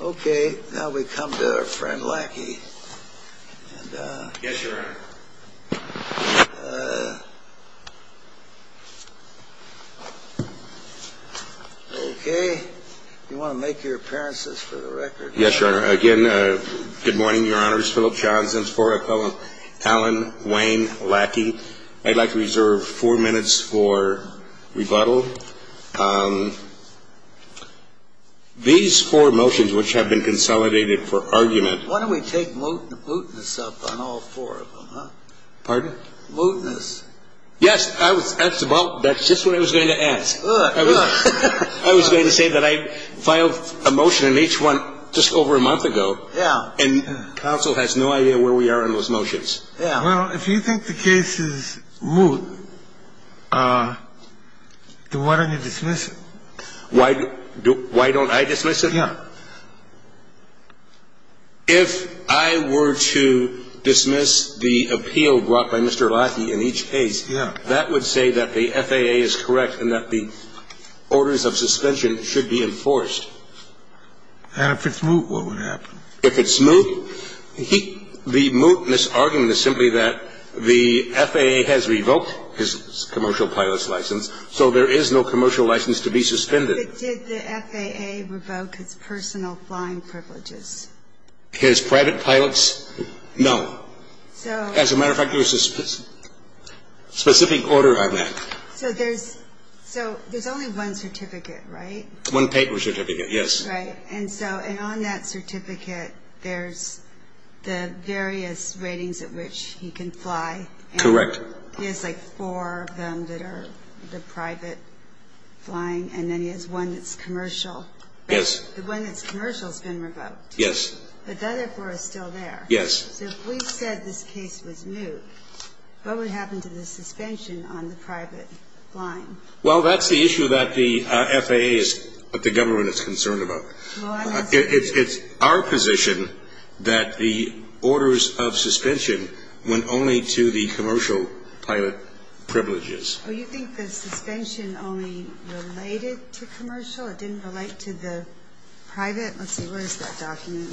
Okay, now we come to our friend Lackey. Yes, Your Honor. Okay, if you want to make your appearances for the record. Yes, Your Honor. Again, good morning, Your Honors. Philip Johnson's four-epilogue. Alan Wayne Lackey. I'd like to reserve four minutes for rebuttal. These four motions which have been consolidated for argument. Why don't we take mootness up on all four of them? Pardon? Mootness. Yes, that's just what I was going to ask. I was going to say that I filed a motion on each one just over a month ago. Yeah. And counsel has no idea where we are on those motions. Well, if you think the case is moot, then why don't you dismiss it? Why don't I dismiss it? Yeah. If I were to dismiss the appeal brought by Mr. Lackey in each case, that would say that the FAA is correct and that the orders of suspension should be enforced. And if it's moot, what would happen? If it's moot, the mootness argument is simply that the FAA has revoked his commercial pilot's license, so there is no commercial license to be suspended. But did the FAA revoke his personal flying privileges? His private pilots? No. As a matter of fact, there's a specific order on that. So there's only one certificate, right? One paper certificate, yes. Right. And on that certificate, there's the various ratings at which he can fly. Correct. He has like four of them that are the private flying, and then he has one that's commercial. Yes. The one that's commercial has been revoked. Yes. But the other four are still there. Yes. So if we said this case was moot, what would happen to the suspension on the private flying? Well, that's the issue that the FAA is, that the government is concerned about. It's our position that the orders of suspension went only to the commercial pilot privileges. Well, you think the suspension only related to commercial? It didn't relate to the private? Let's see. Where is that document?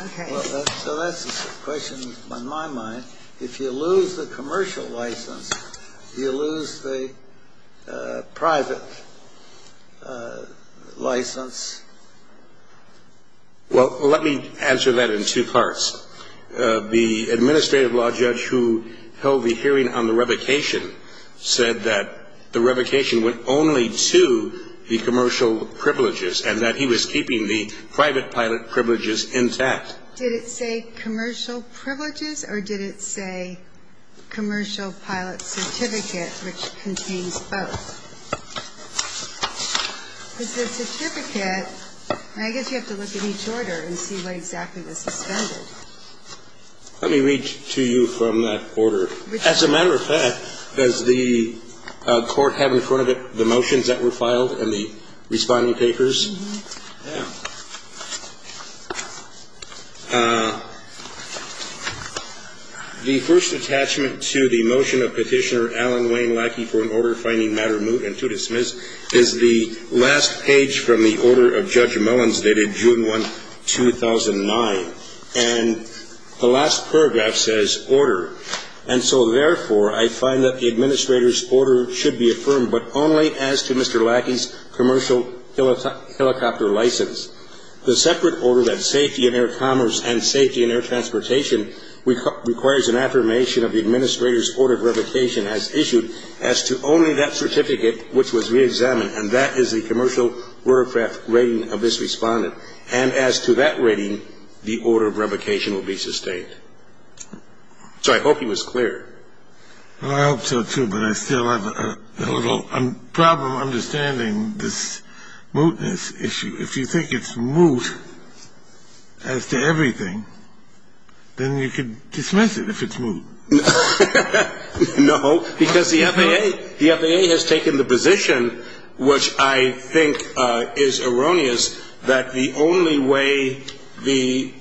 Okay. So that's a question on my mind. If you lose the commercial license, do you lose the private license? Well, let me answer that in two parts. The administrative law judge who held the hearing on the revocation said that the revocation went only to the commercial privileges and that he was keeping the private pilot privileges intact. Did it say commercial privileges or did it say commercial pilot certificate, which contains both? Because the certificate, I guess you have to look at each order and see what exactly was suspended. Let me read to you from that order. As a matter of fact, does the court have in front of it the motions that were filed and the responding papers? The first attachment to the motion of Petitioner Alan Wayne Lackey for an order finding matter moot and to dismiss is the last page from the order of Judge Mellon's dated June 1, 2009. And the last paragraph says order. And so, therefore, I find that the administrator's order should be affirmed but only as to Mr. Lackey's commercial helicopter license. The separate order that safety in air commerce and safety in air transportation requires an affirmation of the administrator's order of revocation as issued as to only that certificate which was reexamined. And that is the commercial aircraft rating of this respondent. And as to that rating, the order of revocation will be sustained. So I hope he was clear. Well, I hope so, too, but I still have a little problem understanding this mootness issue. If you think it's moot as to everything, then you can dismiss it if it's moot. No, because the FAA has taken the position, which I think is erroneous, that the only way the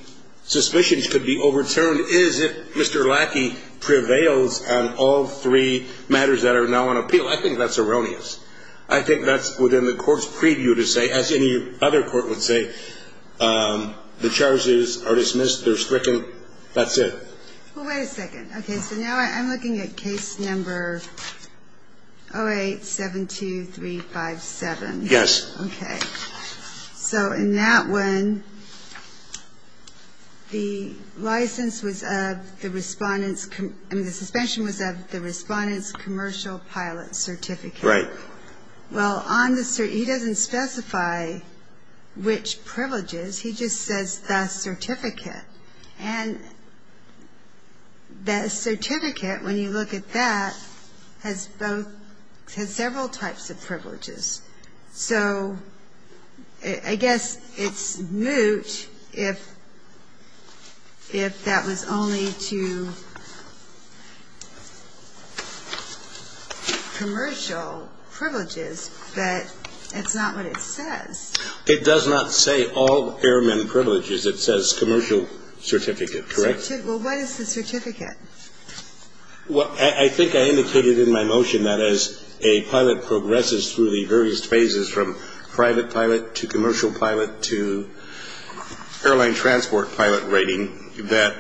suspicions could be overturned is if Mr. Lackey prevails on all three matters that are now on appeal. I think that's erroneous. I think that's within the court's preview to say, as any other court would say, the charges are dismissed, they're stricken, that's it. Well, wait a second. Okay, so now I'm looking at case number 08-72357. Yes. Okay. So in that one, the license was of the respondent's, I mean, the suspension was of the respondent's commercial pilot certificate. Right. Well, he doesn't specify which privileges. He just says the certificate. And the certificate, when you look at that, has several types of privileges. So I guess it's moot if that was only to commercial privileges, but it's not what it says. It does not say all airmen privileges. It says commercial certificate, correct? Well, what is the certificate? Well, I think I indicated in my motion that as a pilot progresses through the various phases from private pilot to commercial pilot to airline transport pilot rating, that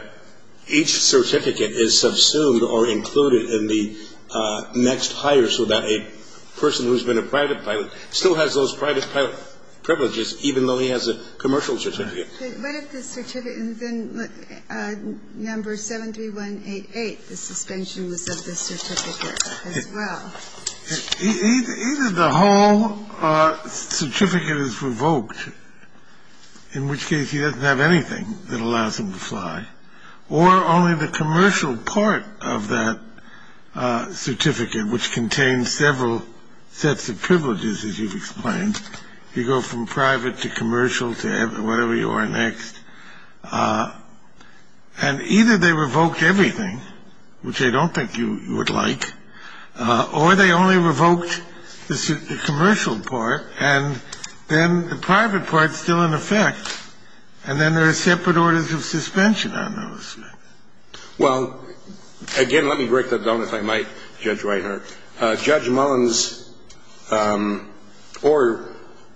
each certificate is subsumed or included in the next hire so that a person who has been a private pilot still has those private pilot privileges, even though he has a commercial certificate. What if the certificate, number 73188, the suspension was of the certificate as well? Either the whole certificate is revoked, in which case he doesn't have anything that allows him to fly, or only the commercial part of that certificate, which contains several sets of privileges, as you've explained. You go from private to commercial to whatever you are next. And either they revoked everything, which I don't think you would like, or they only revoked the commercial part, and then the private part is still in effect, and then there are separate orders of suspension on those. Well, again, let me break that down, if I might, Judge Reinhart. Judge Mullen's order,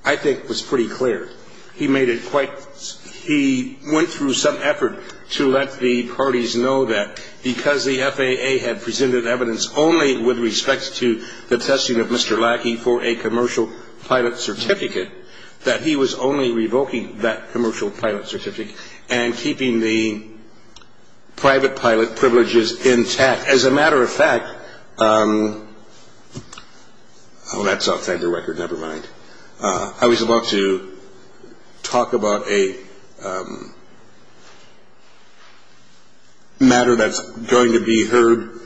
I think, was pretty clear. He made it quite – he went through some effort to let the parties know that because the FAA had presented evidence only with respect to the testing of Mr. Lackey for a commercial pilot certificate, that he was only revoking that commercial pilot certificate and keeping the private pilot privileges intact. As a matter of fact – oh, that's outside the record, never mind. I was about to talk about a matter that's going to be heard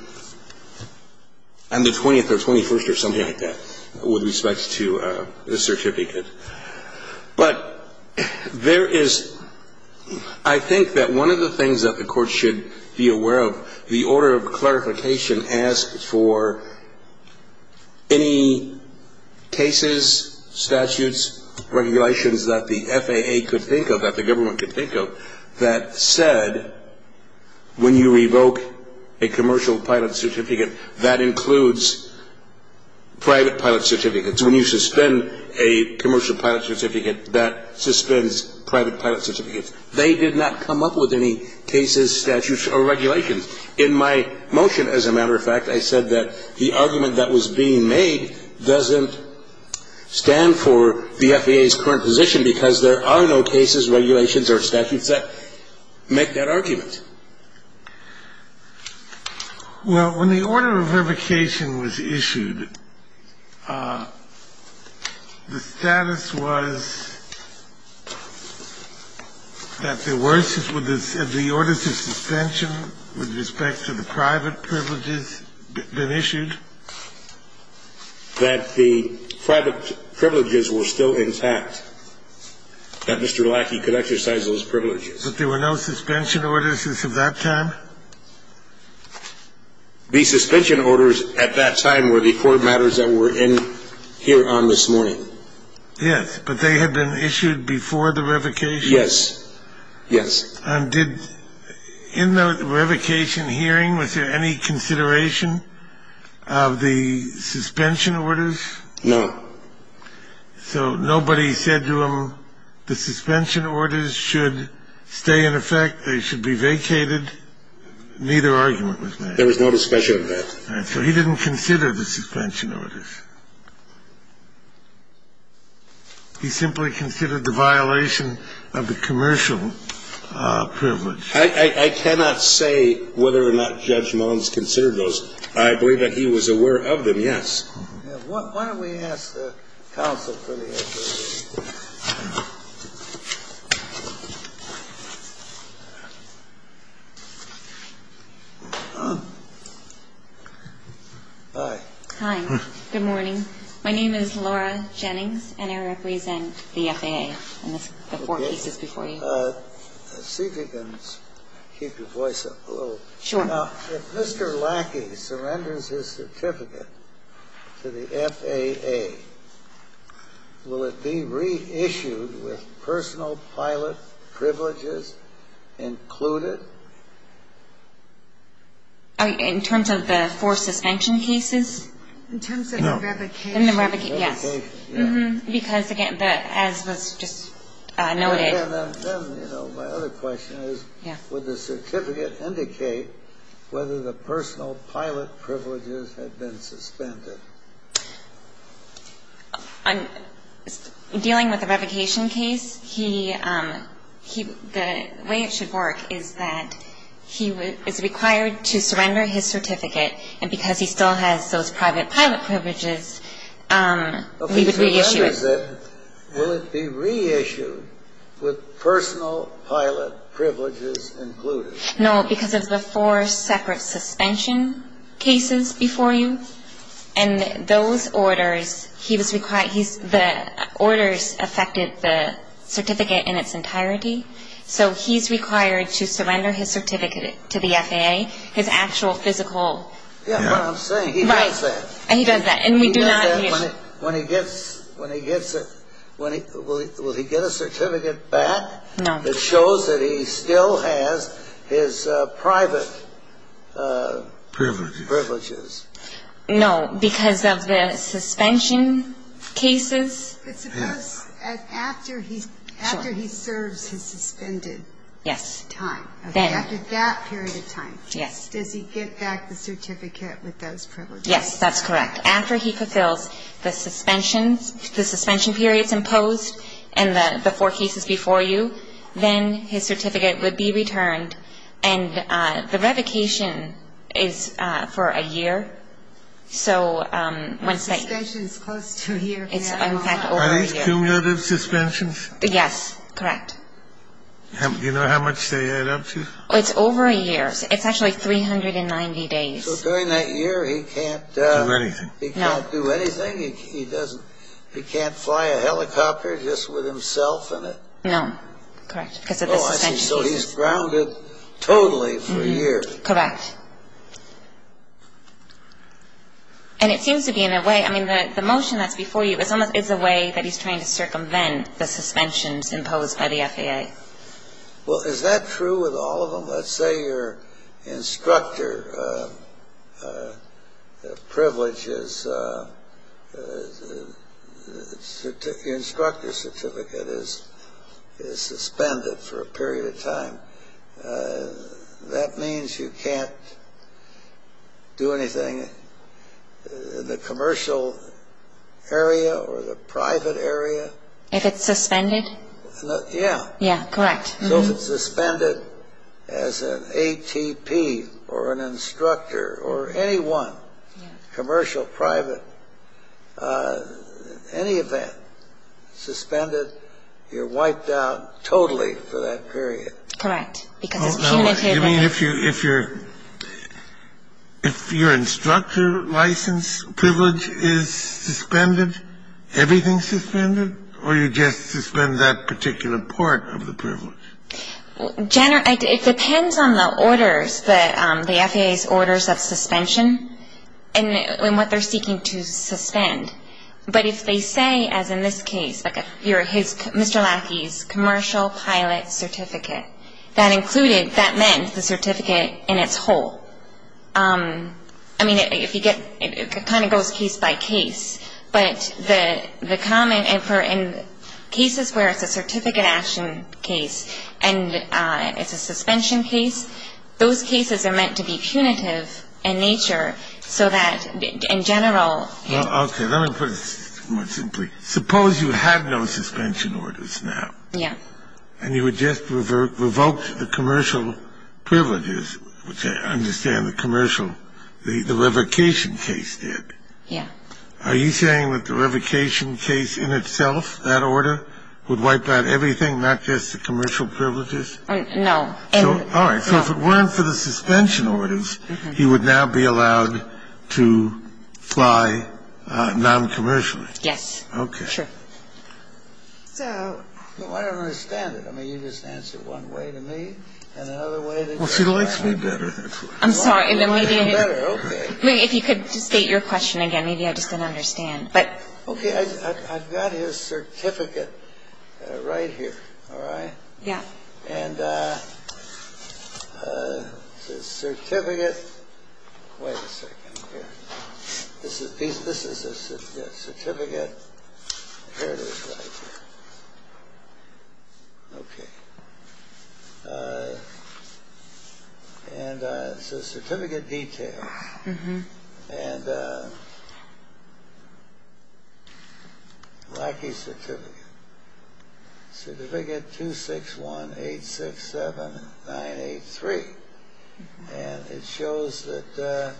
on the 20th or 21st with respect to the certificate. But there is – I think that one of the things that the Court should be aware of, the order of clarification asked for any cases, statutes, regulations that the FAA could think of, that the government could think of, that said when you revoke a commercial pilot certificate, that includes private pilot certificates. When you suspend a commercial pilot certificate, that suspends private pilot certificates. They did not come up with any cases, statutes, or regulations. In my motion, as a matter of fact, I said that the argument that was being made doesn't stand for the FAA's current position because there are no cases, regulations, or statutes that make that argument. Well, when the order of revocation was issued, the status was that there were – that the orders of suspension with respect to the private privileges had been issued. That the private privileges were still intact. That Mr. Lackey could exercise those privileges. But there were no suspension orders as of that time? The suspension orders at that time were the court matters that were in here on this morning. Yes, but they had been issued before the revocation? Yes, yes. And did – in the revocation hearing, was there any consideration of the suspension orders? No. So nobody said to him the suspension orders should stay in effect, they should be vacated, neither argument was made? There was no discussion of that. So he didn't consider the suspension orders. He simply considered the violation of the commercial privilege. I cannot say whether or not Judge Mullins considered those. I believe that he was aware of them, yes. Why don't we ask the counsel for the FAA? Hi. Hi. Good morning. My name is Laura Jennings, and I represent the FAA. I missed the four pieces before you. See if you can keep your voice up a little. Sure. Now, if Mr. Lackey surrenders his certificate to the FAA, will it be reissued with personal pilot privileges included? In terms of the four suspension cases? In terms of the revocation. In the revocation, yes. In the revocation, yes. Because, again, as was just noted. Then, you know, my other question is, would the certificate indicate whether the personal pilot privileges had been suspended? Dealing with the revocation case, he – the way it should work is that he is required to surrender his certificate, and because he still has those private pilot privileges, he would reissue it. Will it be reissued with personal pilot privileges included? No, because of the four separate suspension cases before you. And those orders, he was required – he's – the orders affected the certificate in its entirety. So he's required to surrender his certificate to the FAA, his actual physical – Yeah, but I'm saying he does that. Right. He does that, and we do not – When he gets – when he gets a – when he – will he get a certificate back? No. That shows that he still has his private – Privileges. Privileges. No, because of the suspension cases. But suppose that after he – Sure. After he serves his suspended time. Yes. After that period of time. Yes. Does he get back the certificate with those privileges? Yes, that's correct. After he fulfills the suspensions – the suspension periods imposed and the four cases before you, then his certificate would be returned. And the revocation is for a year. So when – Suspension is close to a year. It's, in fact, over a year. Are these cumulative suspensions? Yes, correct. Do you know how much they add up to? It's over a year. It's actually 390 days. So during that year, he can't – He can't do anything. He can't do anything. He doesn't – he can't fly a helicopter just with himself in it. No. Correct. Because of the suspension cases. Oh, I see. So he's grounded totally for a year. Correct. And it seems to be, in a way – I mean, the motion that's before you is almost – is a way that he's trying to circumvent the suspensions imposed by the FAA. Well, is that true with all of them? Let's say your instructor privilege is – your instructor certificate is suspended for a period of time. That means you can't do anything in the commercial area or the private area. If it's suspended? Yeah. Yeah, correct. So if it's suspended as an ATP or an instructor or any one – commercial, private – in any event, suspended, you're wiped out totally for that period. Because it's punitive. You mean if your instructor license privilege is suspended, everything's suspended? Or you just suspend that particular part of the privilege? It depends on the orders, the FAA's orders of suspension and what they're seeking to suspend. But if they say, as in this case, Mr. Lackey's commercial pilot certificate, that included – that meant the certificate in its whole. I mean, if you get – it kind of goes case by case. But the common – in cases where it's a certificate action case and it's a suspension case, those cases are meant to be punitive in nature so that in general – Well, okay. Let me put it more simply. Suppose you had no suspension orders now. Yeah. And you had just revoked the commercial privileges, which I understand the commercial – the revocation case did. Yeah. Are you saying that the revocation case in itself, that order, would wipe out everything, not just the commercial privileges? No. All right. So if it weren't for the suspension orders, he would now be allowed to fly non-commercially. Yes. Okay. Sure. So – No, I don't understand it. I mean, you just answered one way to me and another way to – Well, she likes me better. I'm sorry. Then maybe – You like me better. Okay. If you could just state your question again. Maybe I just didn't understand. But – Okay. I've got his certificate right here. All right? Yeah. And it says, certificate – wait a second here. This is his certificate. Here it is right here. Okay. And it says, certificate details. And lackey certificate. Certificate 261867983. And it shows that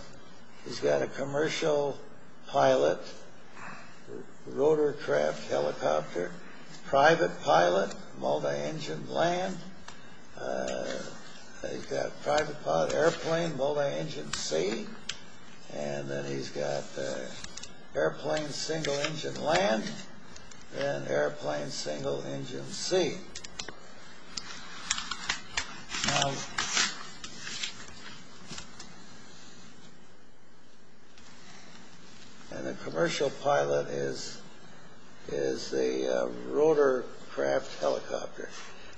he's got a commercial pilot rotorcraft helicopter, private pilot, multi-engine land. He's got private pilot airplane, multi-engine sea. And then he's got airplane single-engine land. And airplane single-engine sea. Now – And the commercial pilot is the rotorcraft helicopter.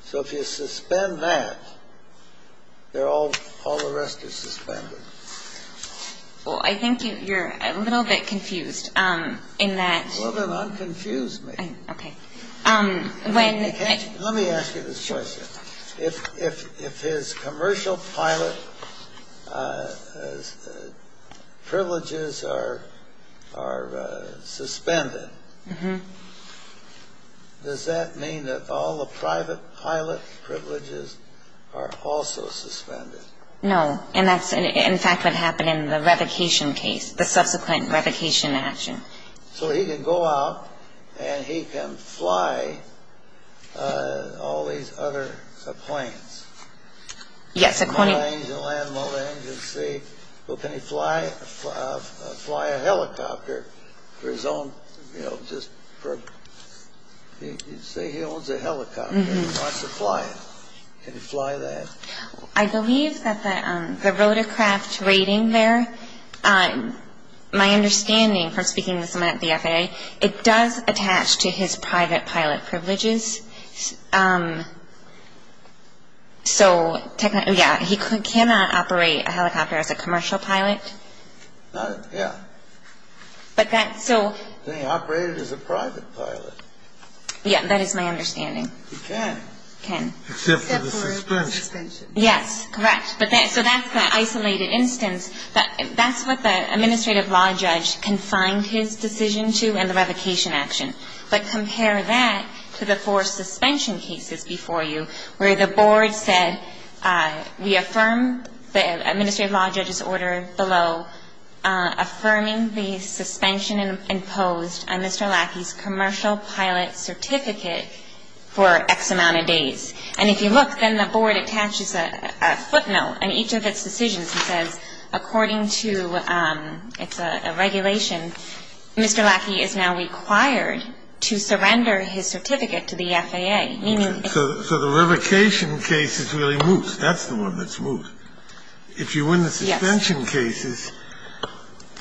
So if you suspend that, all the rest is suspended. Well, I think you're a little bit confused in that – A little bit? I'm confused, maybe. Okay. Let me ask you this question. If his commercial pilot privileges are suspended, does that mean that all the private pilot privileges are also suspended? No. And that's, in fact, what happened in the revocation case, the subsequent revocation action. So he can go out and he can fly all these other planes. Yes, according – Multi-engine land, multi-engine sea. Well, can he fly a helicopter for his own, you know, just for – Say he owns a helicopter and he wants to fly it. Can he fly that? I believe that the rotorcraft rating there, my understanding from speaking with someone at the FAA, it does attach to his private pilot privileges. So technically, yeah, he cannot operate a helicopter as a commercial pilot. Not – yeah. But that – so – Can he operate it as a private pilot? Yeah, that is my understanding. He can. Can. Except for the suspension. Except for the suspension. Yes, correct. But that – so that's the isolated instance. That's what the administrative law judge confined his decision to and the revocation action. But compare that to the four suspension cases before you where the board said, we affirm the administrative law judge's order below affirming the suspension imposed on Mr. Lackey's commercial pilot certificate for X amount of days. And if you look, then the board attaches a footnote in each of its decisions. It says, according to – it's a regulation. Mr. Lackey is now required to surrender his certificate to the FAA, meaning – So the revocation case is really Moose. That's the one that's Moose. If you win the suspension cases,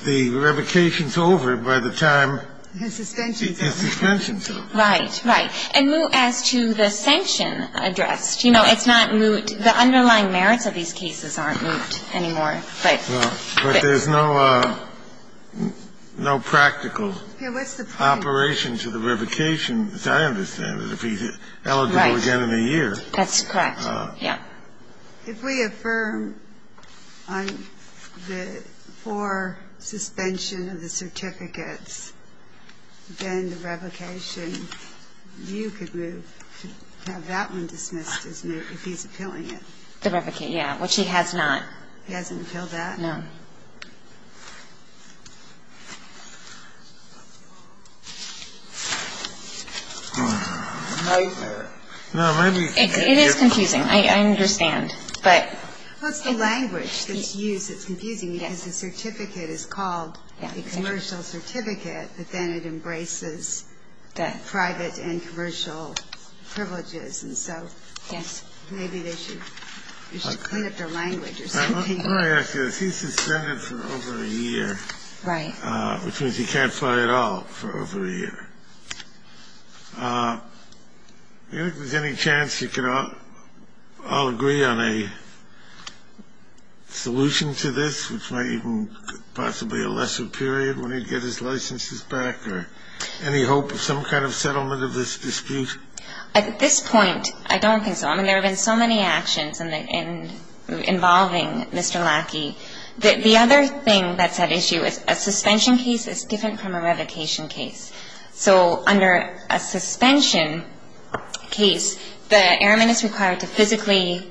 the revocation's over by the time – The suspension's over. The suspension's over. Right, right. And Moose, as to the sanction addressed, you know, it's not Moose. The underlying merits of these cases aren't Moose anymore. Right. But there's no practical operation to the revocation, as I understand it, if he's eligible again in a year. That's correct. Yeah. If we affirm on the for suspension of the certificates, then the revocation, you could move to have that one dismissed as Moose, if he's appealing it. The revocation, yeah, which he has not. He hasn't appealed that? No. It is confusing. I understand. Well, it's the language that's used that's confusing, because the certificate is called a commercial certificate, but then it embraces the private and commercial privileges. And so maybe they should clean up their language or something. Let me ask you this. He's suspended for over a year. Right. Which means he can't fly at all for over a year. Do you think there's any chance you could all agree on a solution to this, which might even possibly be a lesser period when he'd get his licenses back, or any hope of some kind of settlement of this dispute? At this point, I don't think so. I mean, there have been so many actions involving Mr. Lackey. The other thing that's at issue is a suspension case is different from a revocation case. So under a suspension case, the airman is required to physically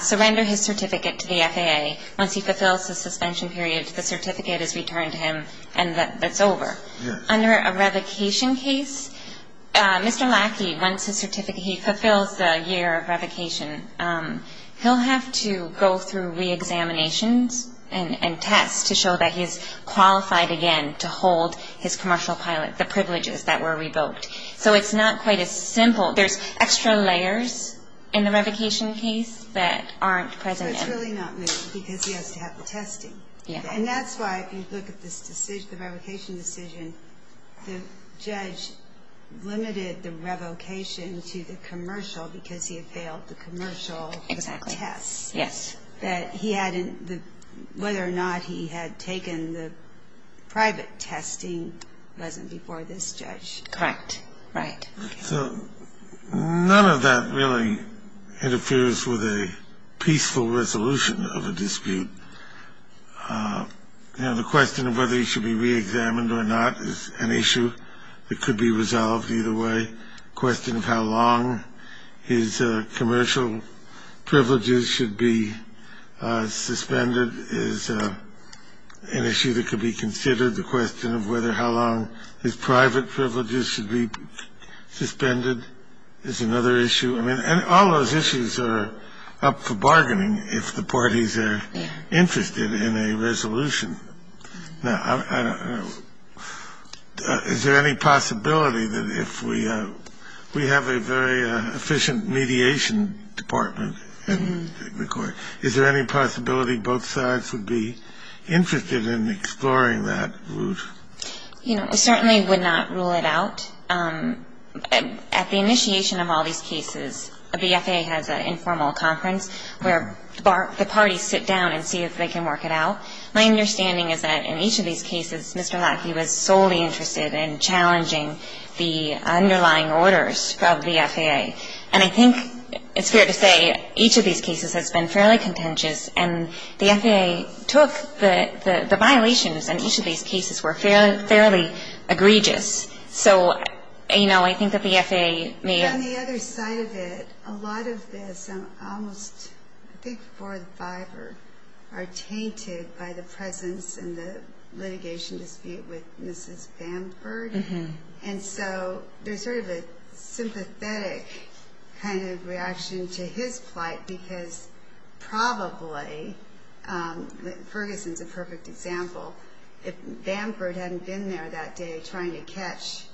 surrender his certificate to the FAA. Once he fulfills the suspension period, the certificate is returned to him, and that's over. Under a revocation case, Mr. Lackey, once he fulfills the year of revocation, he'll have to go through reexaminations and tests to show that he's qualified again to hold his commercial pilot, the privileges that were revoked. So it's not quite as simple. There's extra layers in the revocation case that aren't present. So it's really not moving because he has to have the testing. Yeah. And that's why, if you look at this decision, the revocation decision, the judge limited the revocation to the commercial because he had failed the commercial tests. Exactly. Yes. That he hadn't the – whether or not he had taken the private testing wasn't before this judge. Correct. Right. So none of that really interferes with a peaceful resolution of a dispute. You know, the question of whether he should be reexamined or not is an issue that could be resolved either way. The question of how long his commercial privileges should be suspended is an issue that could be considered. The question of whether how long his private privileges should be suspended is another issue. And all those issues are up for bargaining if the parties are interested in a resolution. Now, is there any possibility that if we have a very efficient mediation department in the court, is there any possibility both sides would be interested in exploring that route? You know, we certainly would not rule it out. At the initiation of all these cases, the FAA has an informal conference where the parties sit down and see if they can work it out. My understanding is that in each of these cases, Mr. Lackey was solely interested in challenging the underlying orders of the FAA. And I think it's fair to say each of these cases has been fairly contentious, and the FAA took the violations in each of these cases were fairly egregious. So, you know, I think that the FAA may have— On the other side of it, a lot of this, I'm almost—I think four or five are tainted by the presence and the litigation dispute with Mrs. Bamford. And so there's sort of a sympathetic kind of reaction to his plight because probably—Ferguson's a perfect example. If Bamford hadn't been there that day trying to catch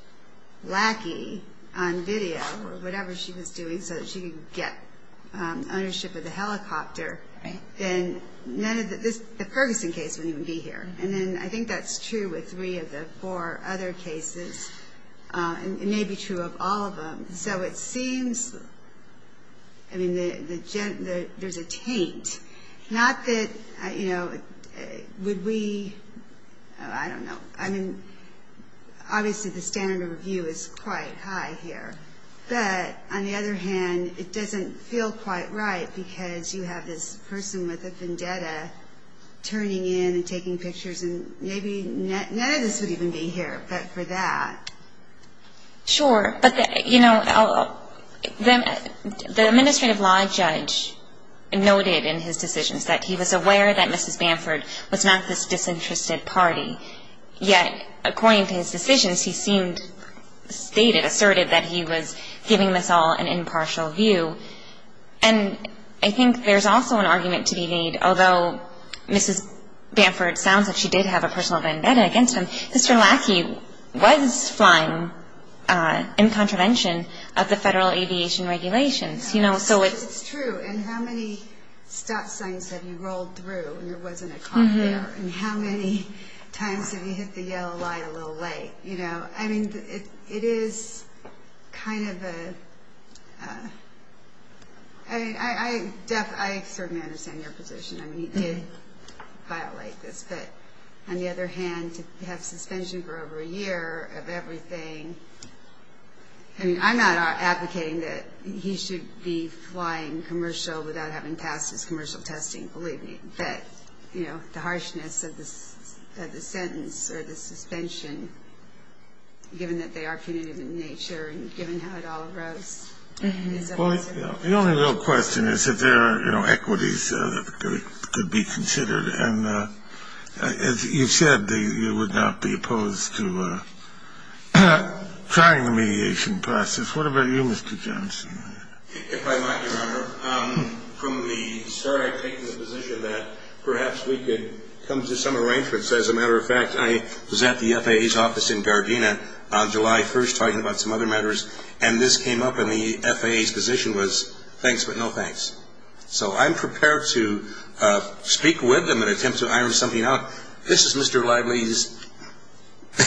Lackey on video or whatever she was doing so that she could get ownership of the helicopter, then none of this—the Ferguson case wouldn't even be here. And then I think that's true with three of the four other cases, and it may be true of all of them. So it seems—I mean, there's a taint. Not that, you know, would we—I don't know. I mean, obviously the standard of review is quite high here. But on the other hand, it doesn't feel quite right because you have this person with a vendetta turning in and taking pictures, and maybe none of this would even be here, but for that. Sure. But, you know, the administrative law judge noted in his decisions that he was aware that Mrs. Bamford was not this disinterested party. Yet, according to his decisions, he seemed—stated, asserted that he was giving this all an impartial view. And I think there's also an argument to be made, although Mrs. Bamford sounds like she did have a personal vendetta against him, that Mr. Lackey was flying in contravention of the federal aviation regulations. It's true. And how many stop signs have you rolled through and there wasn't a cop there? And how many times have you hit the yellow light a little late? You know, I mean, it is kind of a—I mean, I certainly understand your position. I mean, he did violate this, but on the other hand, to have suspension for over a year of everything— I mean, I'm not advocating that he should be flying commercial without having passed his commercial testing, believe me. But, you know, the harshness of the sentence or the suspension, given that they are punitive in nature and given how it all arose— The only real question is if there are, you know, equities that could be considered. And as you said, you would not be opposed to trying the mediation process. What about you, Mr. Johnson? If I might, Your Honor, from the start I've taken the position that perhaps we could come to some arrangements. As a matter of fact, I was at the FAA's office in Gardena on July 1st talking about some other matters, and this came up and the FAA's position was thanks but no thanks. So I'm prepared to speak with them and attempt to iron something out. This is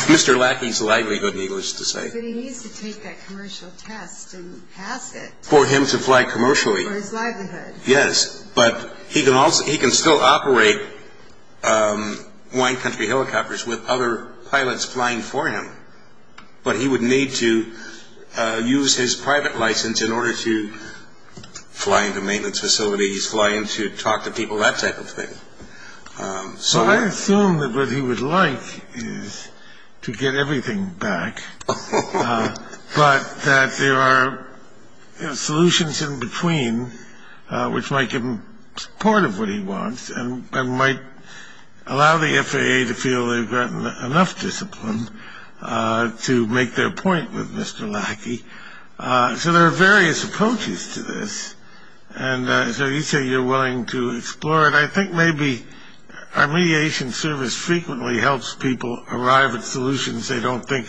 Mr. Lackey's livelihood, needless to say. But he needs to take that commercial test and pass it. For him to fly commercially. For his livelihood. Yes, but he can still operate wine country helicopters with other pilots flying for him. But he would need to use his private license in order to fly into maintenance facilities, fly in to talk to people, that type of thing. So I assume that what he would like is to get everything back, but that there are solutions in between which might give him part of what he wants and might allow the FAA to feel they've gotten enough discipline to make their point with Mr. Lackey. So there are various approaches to this. And so you say you're willing to explore it. I think maybe our mediation service frequently helps people arrive at solutions they don't think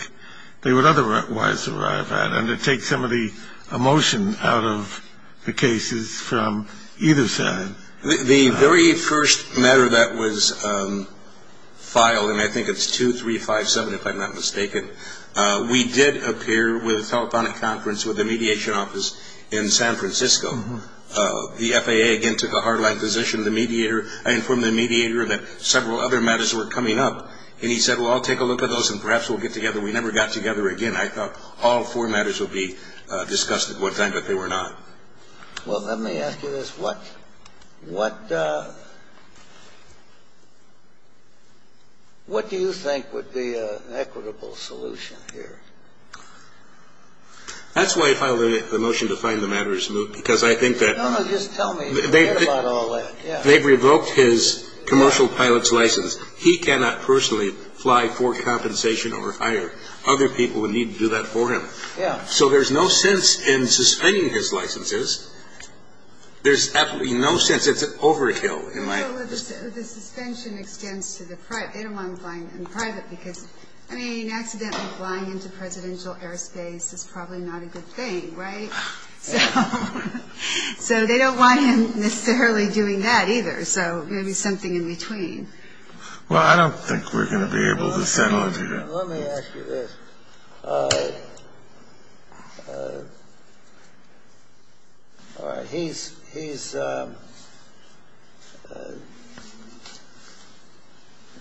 they would otherwise arrive at and to take some of the emotion out of the cases from either side. The very first matter that was filed, and I think it's 2357 if I'm not mistaken, we did appear with a telephonic conference with the mediation office in San Francisco. The FAA again took a hard line position. I informed the mediator that several other matters were coming up. And he said, well, I'll take a look at those and perhaps we'll get together. We never got together again. I thought all four matters would be discussed at one time, but they were not. Well, let me ask you this. What do you think would be an equitable solution here? That's why I filed the motion to find the matters moved, because I think that they've revoked his commercial pilot's license. He cannot personally fly for compensation or hire other people who need to do that for him. So there's no sense in suspending his licenses. There's absolutely no sense. It's an overkill. The suspension extends to the private. They don't want him flying in private because, I mean, accidentally flying into presidential airspace is probably not a good thing, right? So they don't want him necessarily doing that either. So maybe something in between. Well, I don't think we're going to be able to settle into that. Let me ask you this.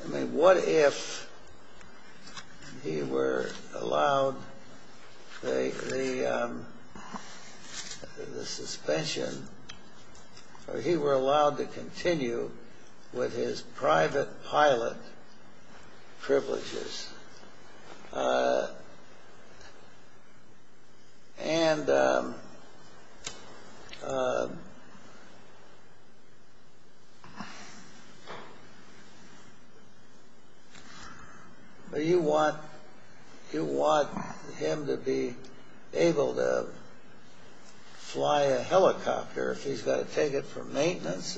I mean, what if he were allowed the suspension, or he were allowed to continue with his private pilot privileges, and you want him to be able to fly a helicopter if he's got to take it for maintenance?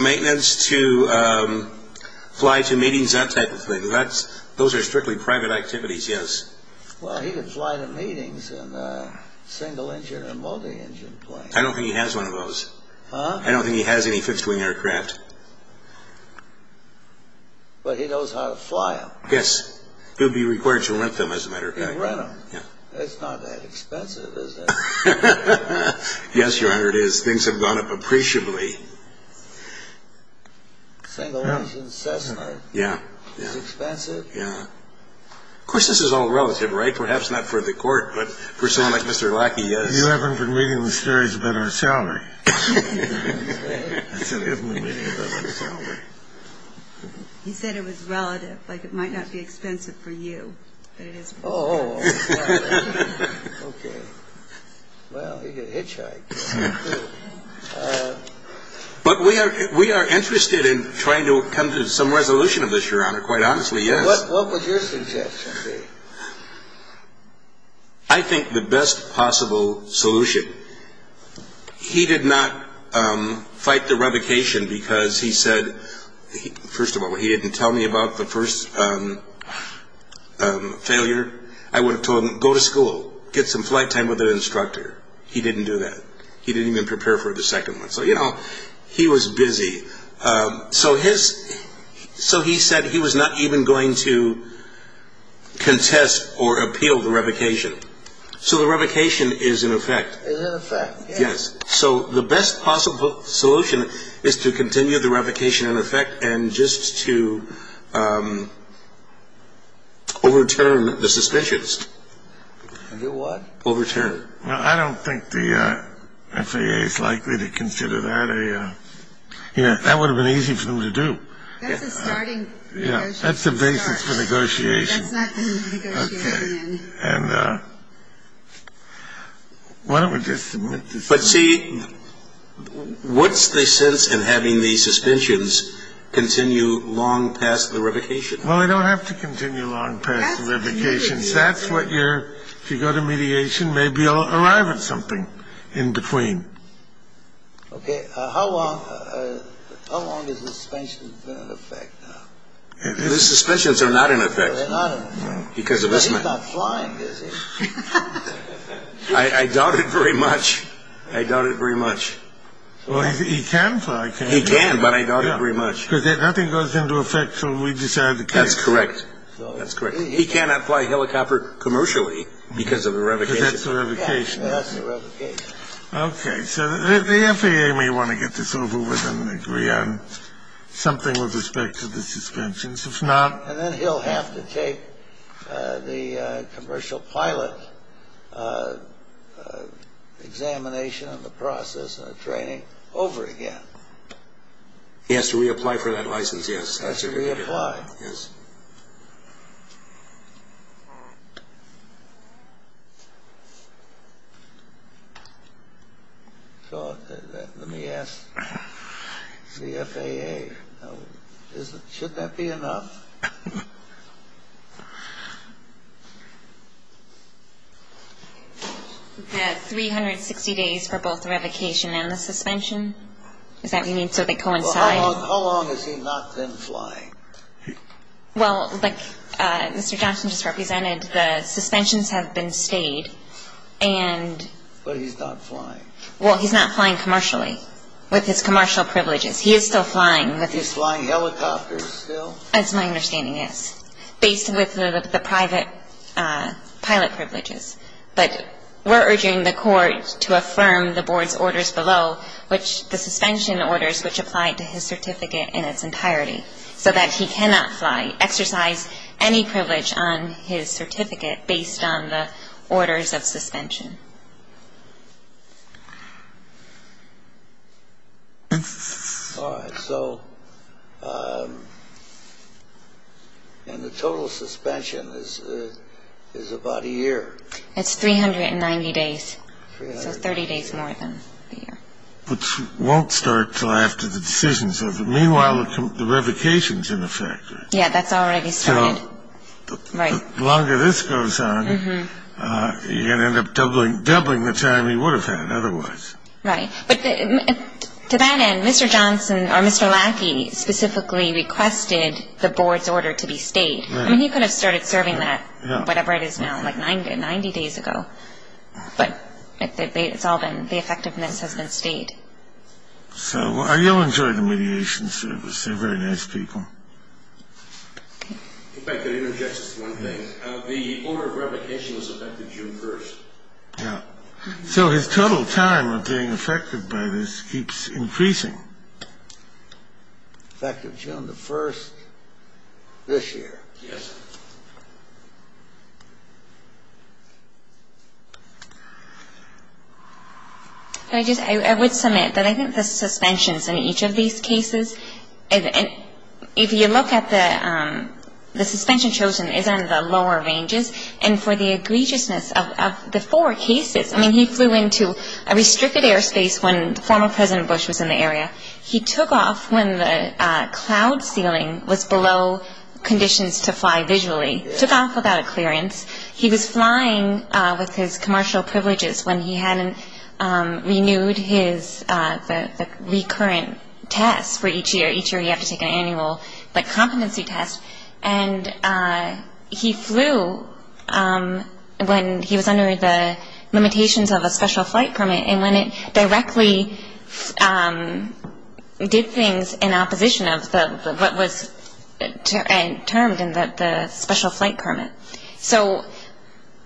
Maintenance to fly to meetings, that type of thing. Those are strictly private activities, yes. Well, he could fly to meetings in a single-engine or multi-engine plane. I don't think he has one of those. Huh? I don't think he has any fifth-wing aircraft. But he knows how to fly them. Yes. He would be required to rent them, as a matter of fact. He'd rent them. It's not that expensive, is it? Yes, Your Honor, it is. It would have gone up appreciably. Single-engine Cessna? Yes. Is it expensive? Yes. Of course, this is all relative, right? Perhaps not for the Court, but for someone like Mr. Lackey, yes. You haven't been reading the stories about our salary. I said, I haven't been reading about our salary. He said it was relative, like it might not be expensive for you, but it is for him. Oh, okay. Well, he's a hitchhiker. But we are interested in trying to come to some resolution of this, Your Honor, quite honestly, yes. What would your suggestion be? I think the best possible solution. He did not fight the revocation because he said, first of all, he didn't tell me about the first failure. I would have told him, go to school, get some flight time with an instructor. He didn't do that. He didn't even prepare for the second one. So, you know, he was busy. So he said he was not even going to contest or appeal the revocation. So the revocation is in effect. Is in effect, yes. So the best possible solution is to continue the revocation in effect and just to overturn the suspicions. Do what? Overturn. Well, I don't think the FAA is likely to consider that. That would have been easy for them to do. That's a starting negotiation. That's the basis for negotiation. That's not the negotiating end. And why don't we just. But see, what's the sense in having the suspicions continue long past the revocation? Well, we don't have to continue long past the revocation. That's what you're. If you go to mediation, maybe you'll arrive at something in between. OK. How long? How long is the suspension in effect? The suspicions are not in effect. Because of this. I doubt it very much. I doubt it very much. He can fly. He can. But I doubt it very much. Because nothing goes into effect till we decide the case. That's correct. He cannot fly a helicopter commercially because of the revocation. Because that's the revocation. That's the revocation. OK. So the FAA may want to get this over with and agree on something with respect to the suspicions. And then he'll have to take the commercial pilot examination and the process and the training over again. He has to reapply for that license, yes. He has to reapply. Yes. So let me ask the FAA, should that be enough? We've got 360 days for both revocation and the suspension. Is that what you mean, so they coincide? How long has he not been flying? Well, like Mr. Johnson just represented, the suspensions have been stayed. But he's not flying. Well, he's not flying commercially with his commercial privileges. He is still flying. He's flying helicopters still? That's my understanding, yes, based with the private pilot privileges. But we're urging the court to affirm the board's orders below, which the suspension orders, which apply to his certificate in its entirety. So that he cannot fly, exercise any privilege on his certificate based on the orders of suspension. All right. So and the total suspension is about a year? It's 390 days, so 30 days more than a year. Which won't start until after the decisions. Meanwhile, the revocation's in effect. Yeah, that's already started. So the longer this goes on, you're going to end up doubling the time he would have had otherwise. Right. But to that end, Mr. Johnson or Mr. Lackey specifically requested the board's order to be stayed. I mean, he could have started serving that, whatever it is now, like 90 days ago. But it's all been, the effectiveness has been stayed. So are you enjoying the mediation service? They're very nice people. If I could interject just one thing. The order of revocation was effective June 1st. Yeah. So his total time of being affected by this keeps increasing. Effective June the 1st, this year? Yes. Thank you. I would submit that I think the suspensions in each of these cases, if you look at the, the suspension chosen is on the lower ranges. And for the egregiousness of the four cases, I mean, he flew into a restricted airspace when former President Bush was in the area. He took off when the cloud ceiling was below conditions to fly visually. He took off without a clearance. He was flying with his commercial privileges when he hadn't renewed his, the recurrent tests for each year. Each year you have to take an annual, like, competency test. And he flew when he was under the limitations of a special flight permit and when it directly did things in opposition of what was termed the special flight permit. So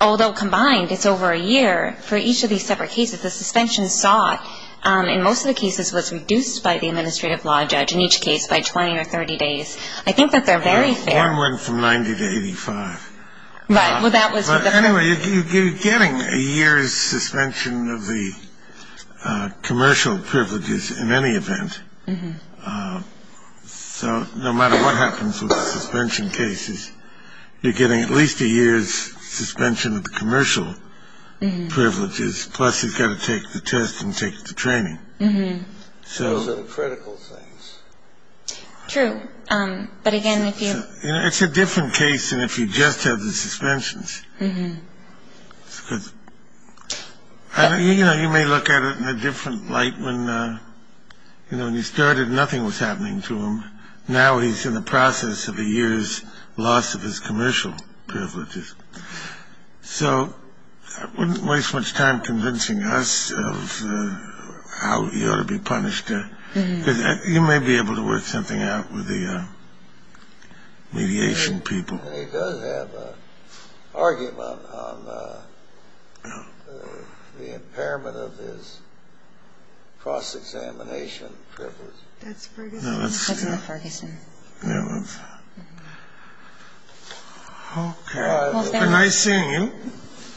although combined it's over a year, for each of these separate cases the suspension saw, in most of the cases was reduced by the administrative law judge, in each case by 20 or 30 days. I think that they're very fair. One went from 90 to 85. Right. Well, that was. But anyway, you're getting a year's suspension of the commercial privileges in any event. So no matter what happens with the suspension cases, you're getting at least a year's suspension of the commercial privileges, plus he's got to take the test and take the training. So. Those are the critical things. True. But again, if you. It's a different case than if you just have the suspensions. You know, you may look at it in a different light when, you know, when you started, nothing was happening to him. Now he's in the process of a year's loss of his commercial privileges. So I wouldn't waste much time convincing us of how you ought to be punished. You may be able to work something out with the mediation people. He does have an argument on the impairment of his cross-examination privilege. That's Ferguson. That's in the Ferguson. Yeah, that's. Okay. Well, thank you. Nice seeing you.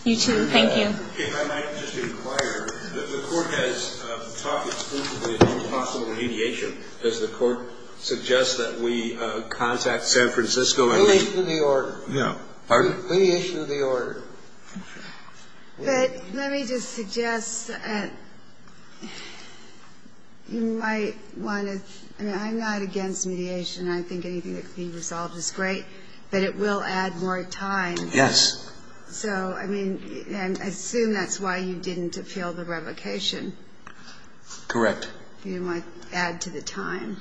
You too. Thank you. If I might just inquire, the court has talked exclusively about possible mediation. Does the court suggest that we contact San Francisco and. Mediation of the order. Pardon? Mediation of the order. But let me just suggest that you might want to. I mean, I'm not against mediation. I think anything that can be resolved is great, but it will add more time. Yes. So, I mean, I assume that's why you didn't appeal the revocation. Correct. You might add to the time.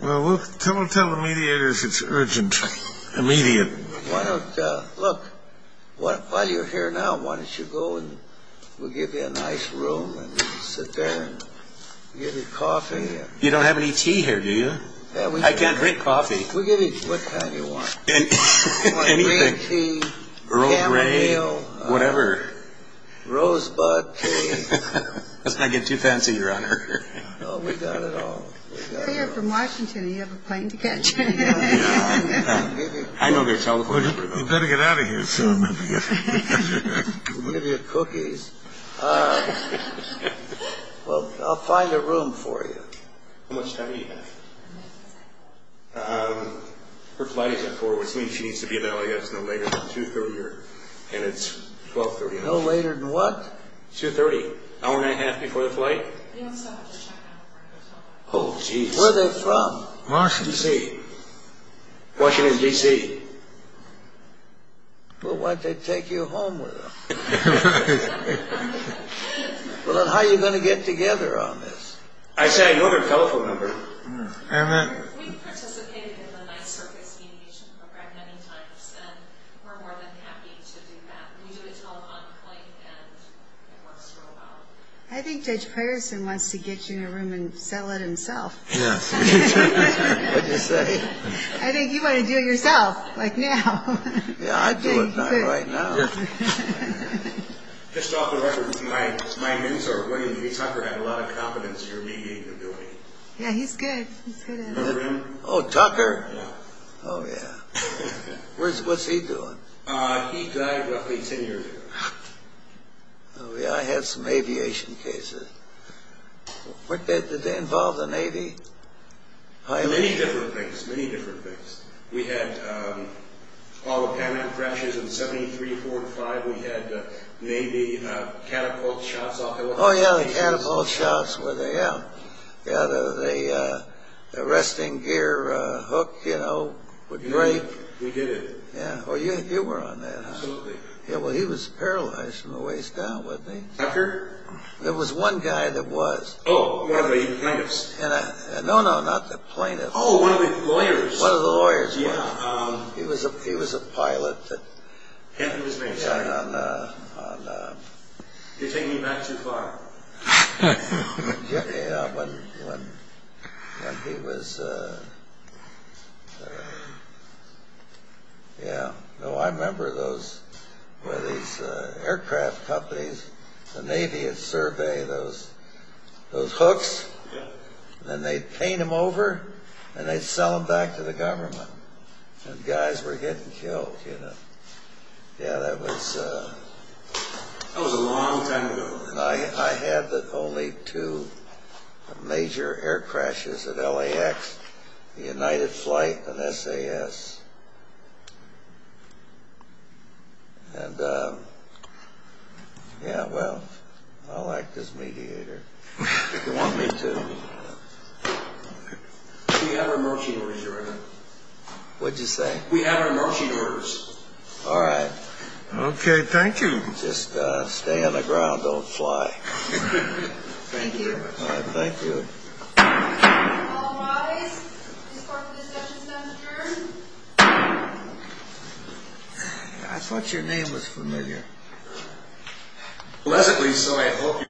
Well, we'll tell the mediators it's urgent. Immediate. Why don't, look, while you're here now, why don't you go and we'll give you a nice room and you can sit there and get your coffee. You don't have any tea here, do you? I can't drink coffee. We'll give you what kind you want. Anything. I want green tea, chamomile. Whatever. Rosebud tea. Let's not get too fancy, Your Honor. No, we've got it all. We're here from Washington. Do you have a plane to catch? Yeah. I know their telephone number, though. You better get out of here soon. We'll give you cookies. Well, I'll find a room for you. How much time do you have? Um, her flight is at 4, which means she needs to be in LAX no later than 2-30, and it's 12-30. No later than what? 2-30, an hour and a half before the flight. Oh, geez. Where are they from? Washington, D.C. Washington, D.C. Well, why don't they take you home with them? Well, then how are you going to get together on this? I say I know their telephone number. Fair enough. We've participated in the night circus aviation program many times, and we're more than happy to do that. We do it to a lot of claim, and it works real well. I think Judge Patterson wants to get you in a room and settle it himself. Yes. What did you say? I think you want to do it yourself, like now. Yeah, I'd do it now, right now. Just off the record, my mentor, Wayne V. Tucker, had a lot of confidence in your mediating ability. Yeah, he's good. Remember him? Oh, Tucker? Yeah. Oh, yeah. What's he doing? He died roughly 10 years ago. Oh, yeah, I had some aviation cases. Did they involve the Navy? Many different things, many different things. We had autopilot crashes in the 73-45. We had Navy catapult shots off the helicopter. Oh, yeah, the catapult shots, yeah. Yeah, the resting gear hook, you know, would break. We did it. Yeah, you were on that, huh? Absolutely. Yeah, well, he was paralyzed from the waist down, wasn't he? Tucker? There was one guy that was. Oh, one of the plaintiffs. No, no, not the plaintiffs. Oh, one of the lawyers. One of the lawyers, yeah. He was a pilot that. He was major. Yeah, on. You're taking me back too far. Yeah, when he was. Yeah, no, I remember those, where these aircraft companies, the Navy would survey those hooks. Then they'd paint them over, and they'd sell them back to the government. And guys were getting killed, you know. Yeah, that was. That was a long time ago. I had only two major air crashes at LAX. The United Flight and SAS. And, yeah, well, I like this mediator. If you want me to. We have our emergency orders, Your Honor. What'd you say? We have our emergency orders. All right. Okay, thank you. Just stay on the ground. Don't fly. Thank you. All right, thank you. All rise. This Court of Discussions has adjourned. I thought your name was familiar. Pleasantly so.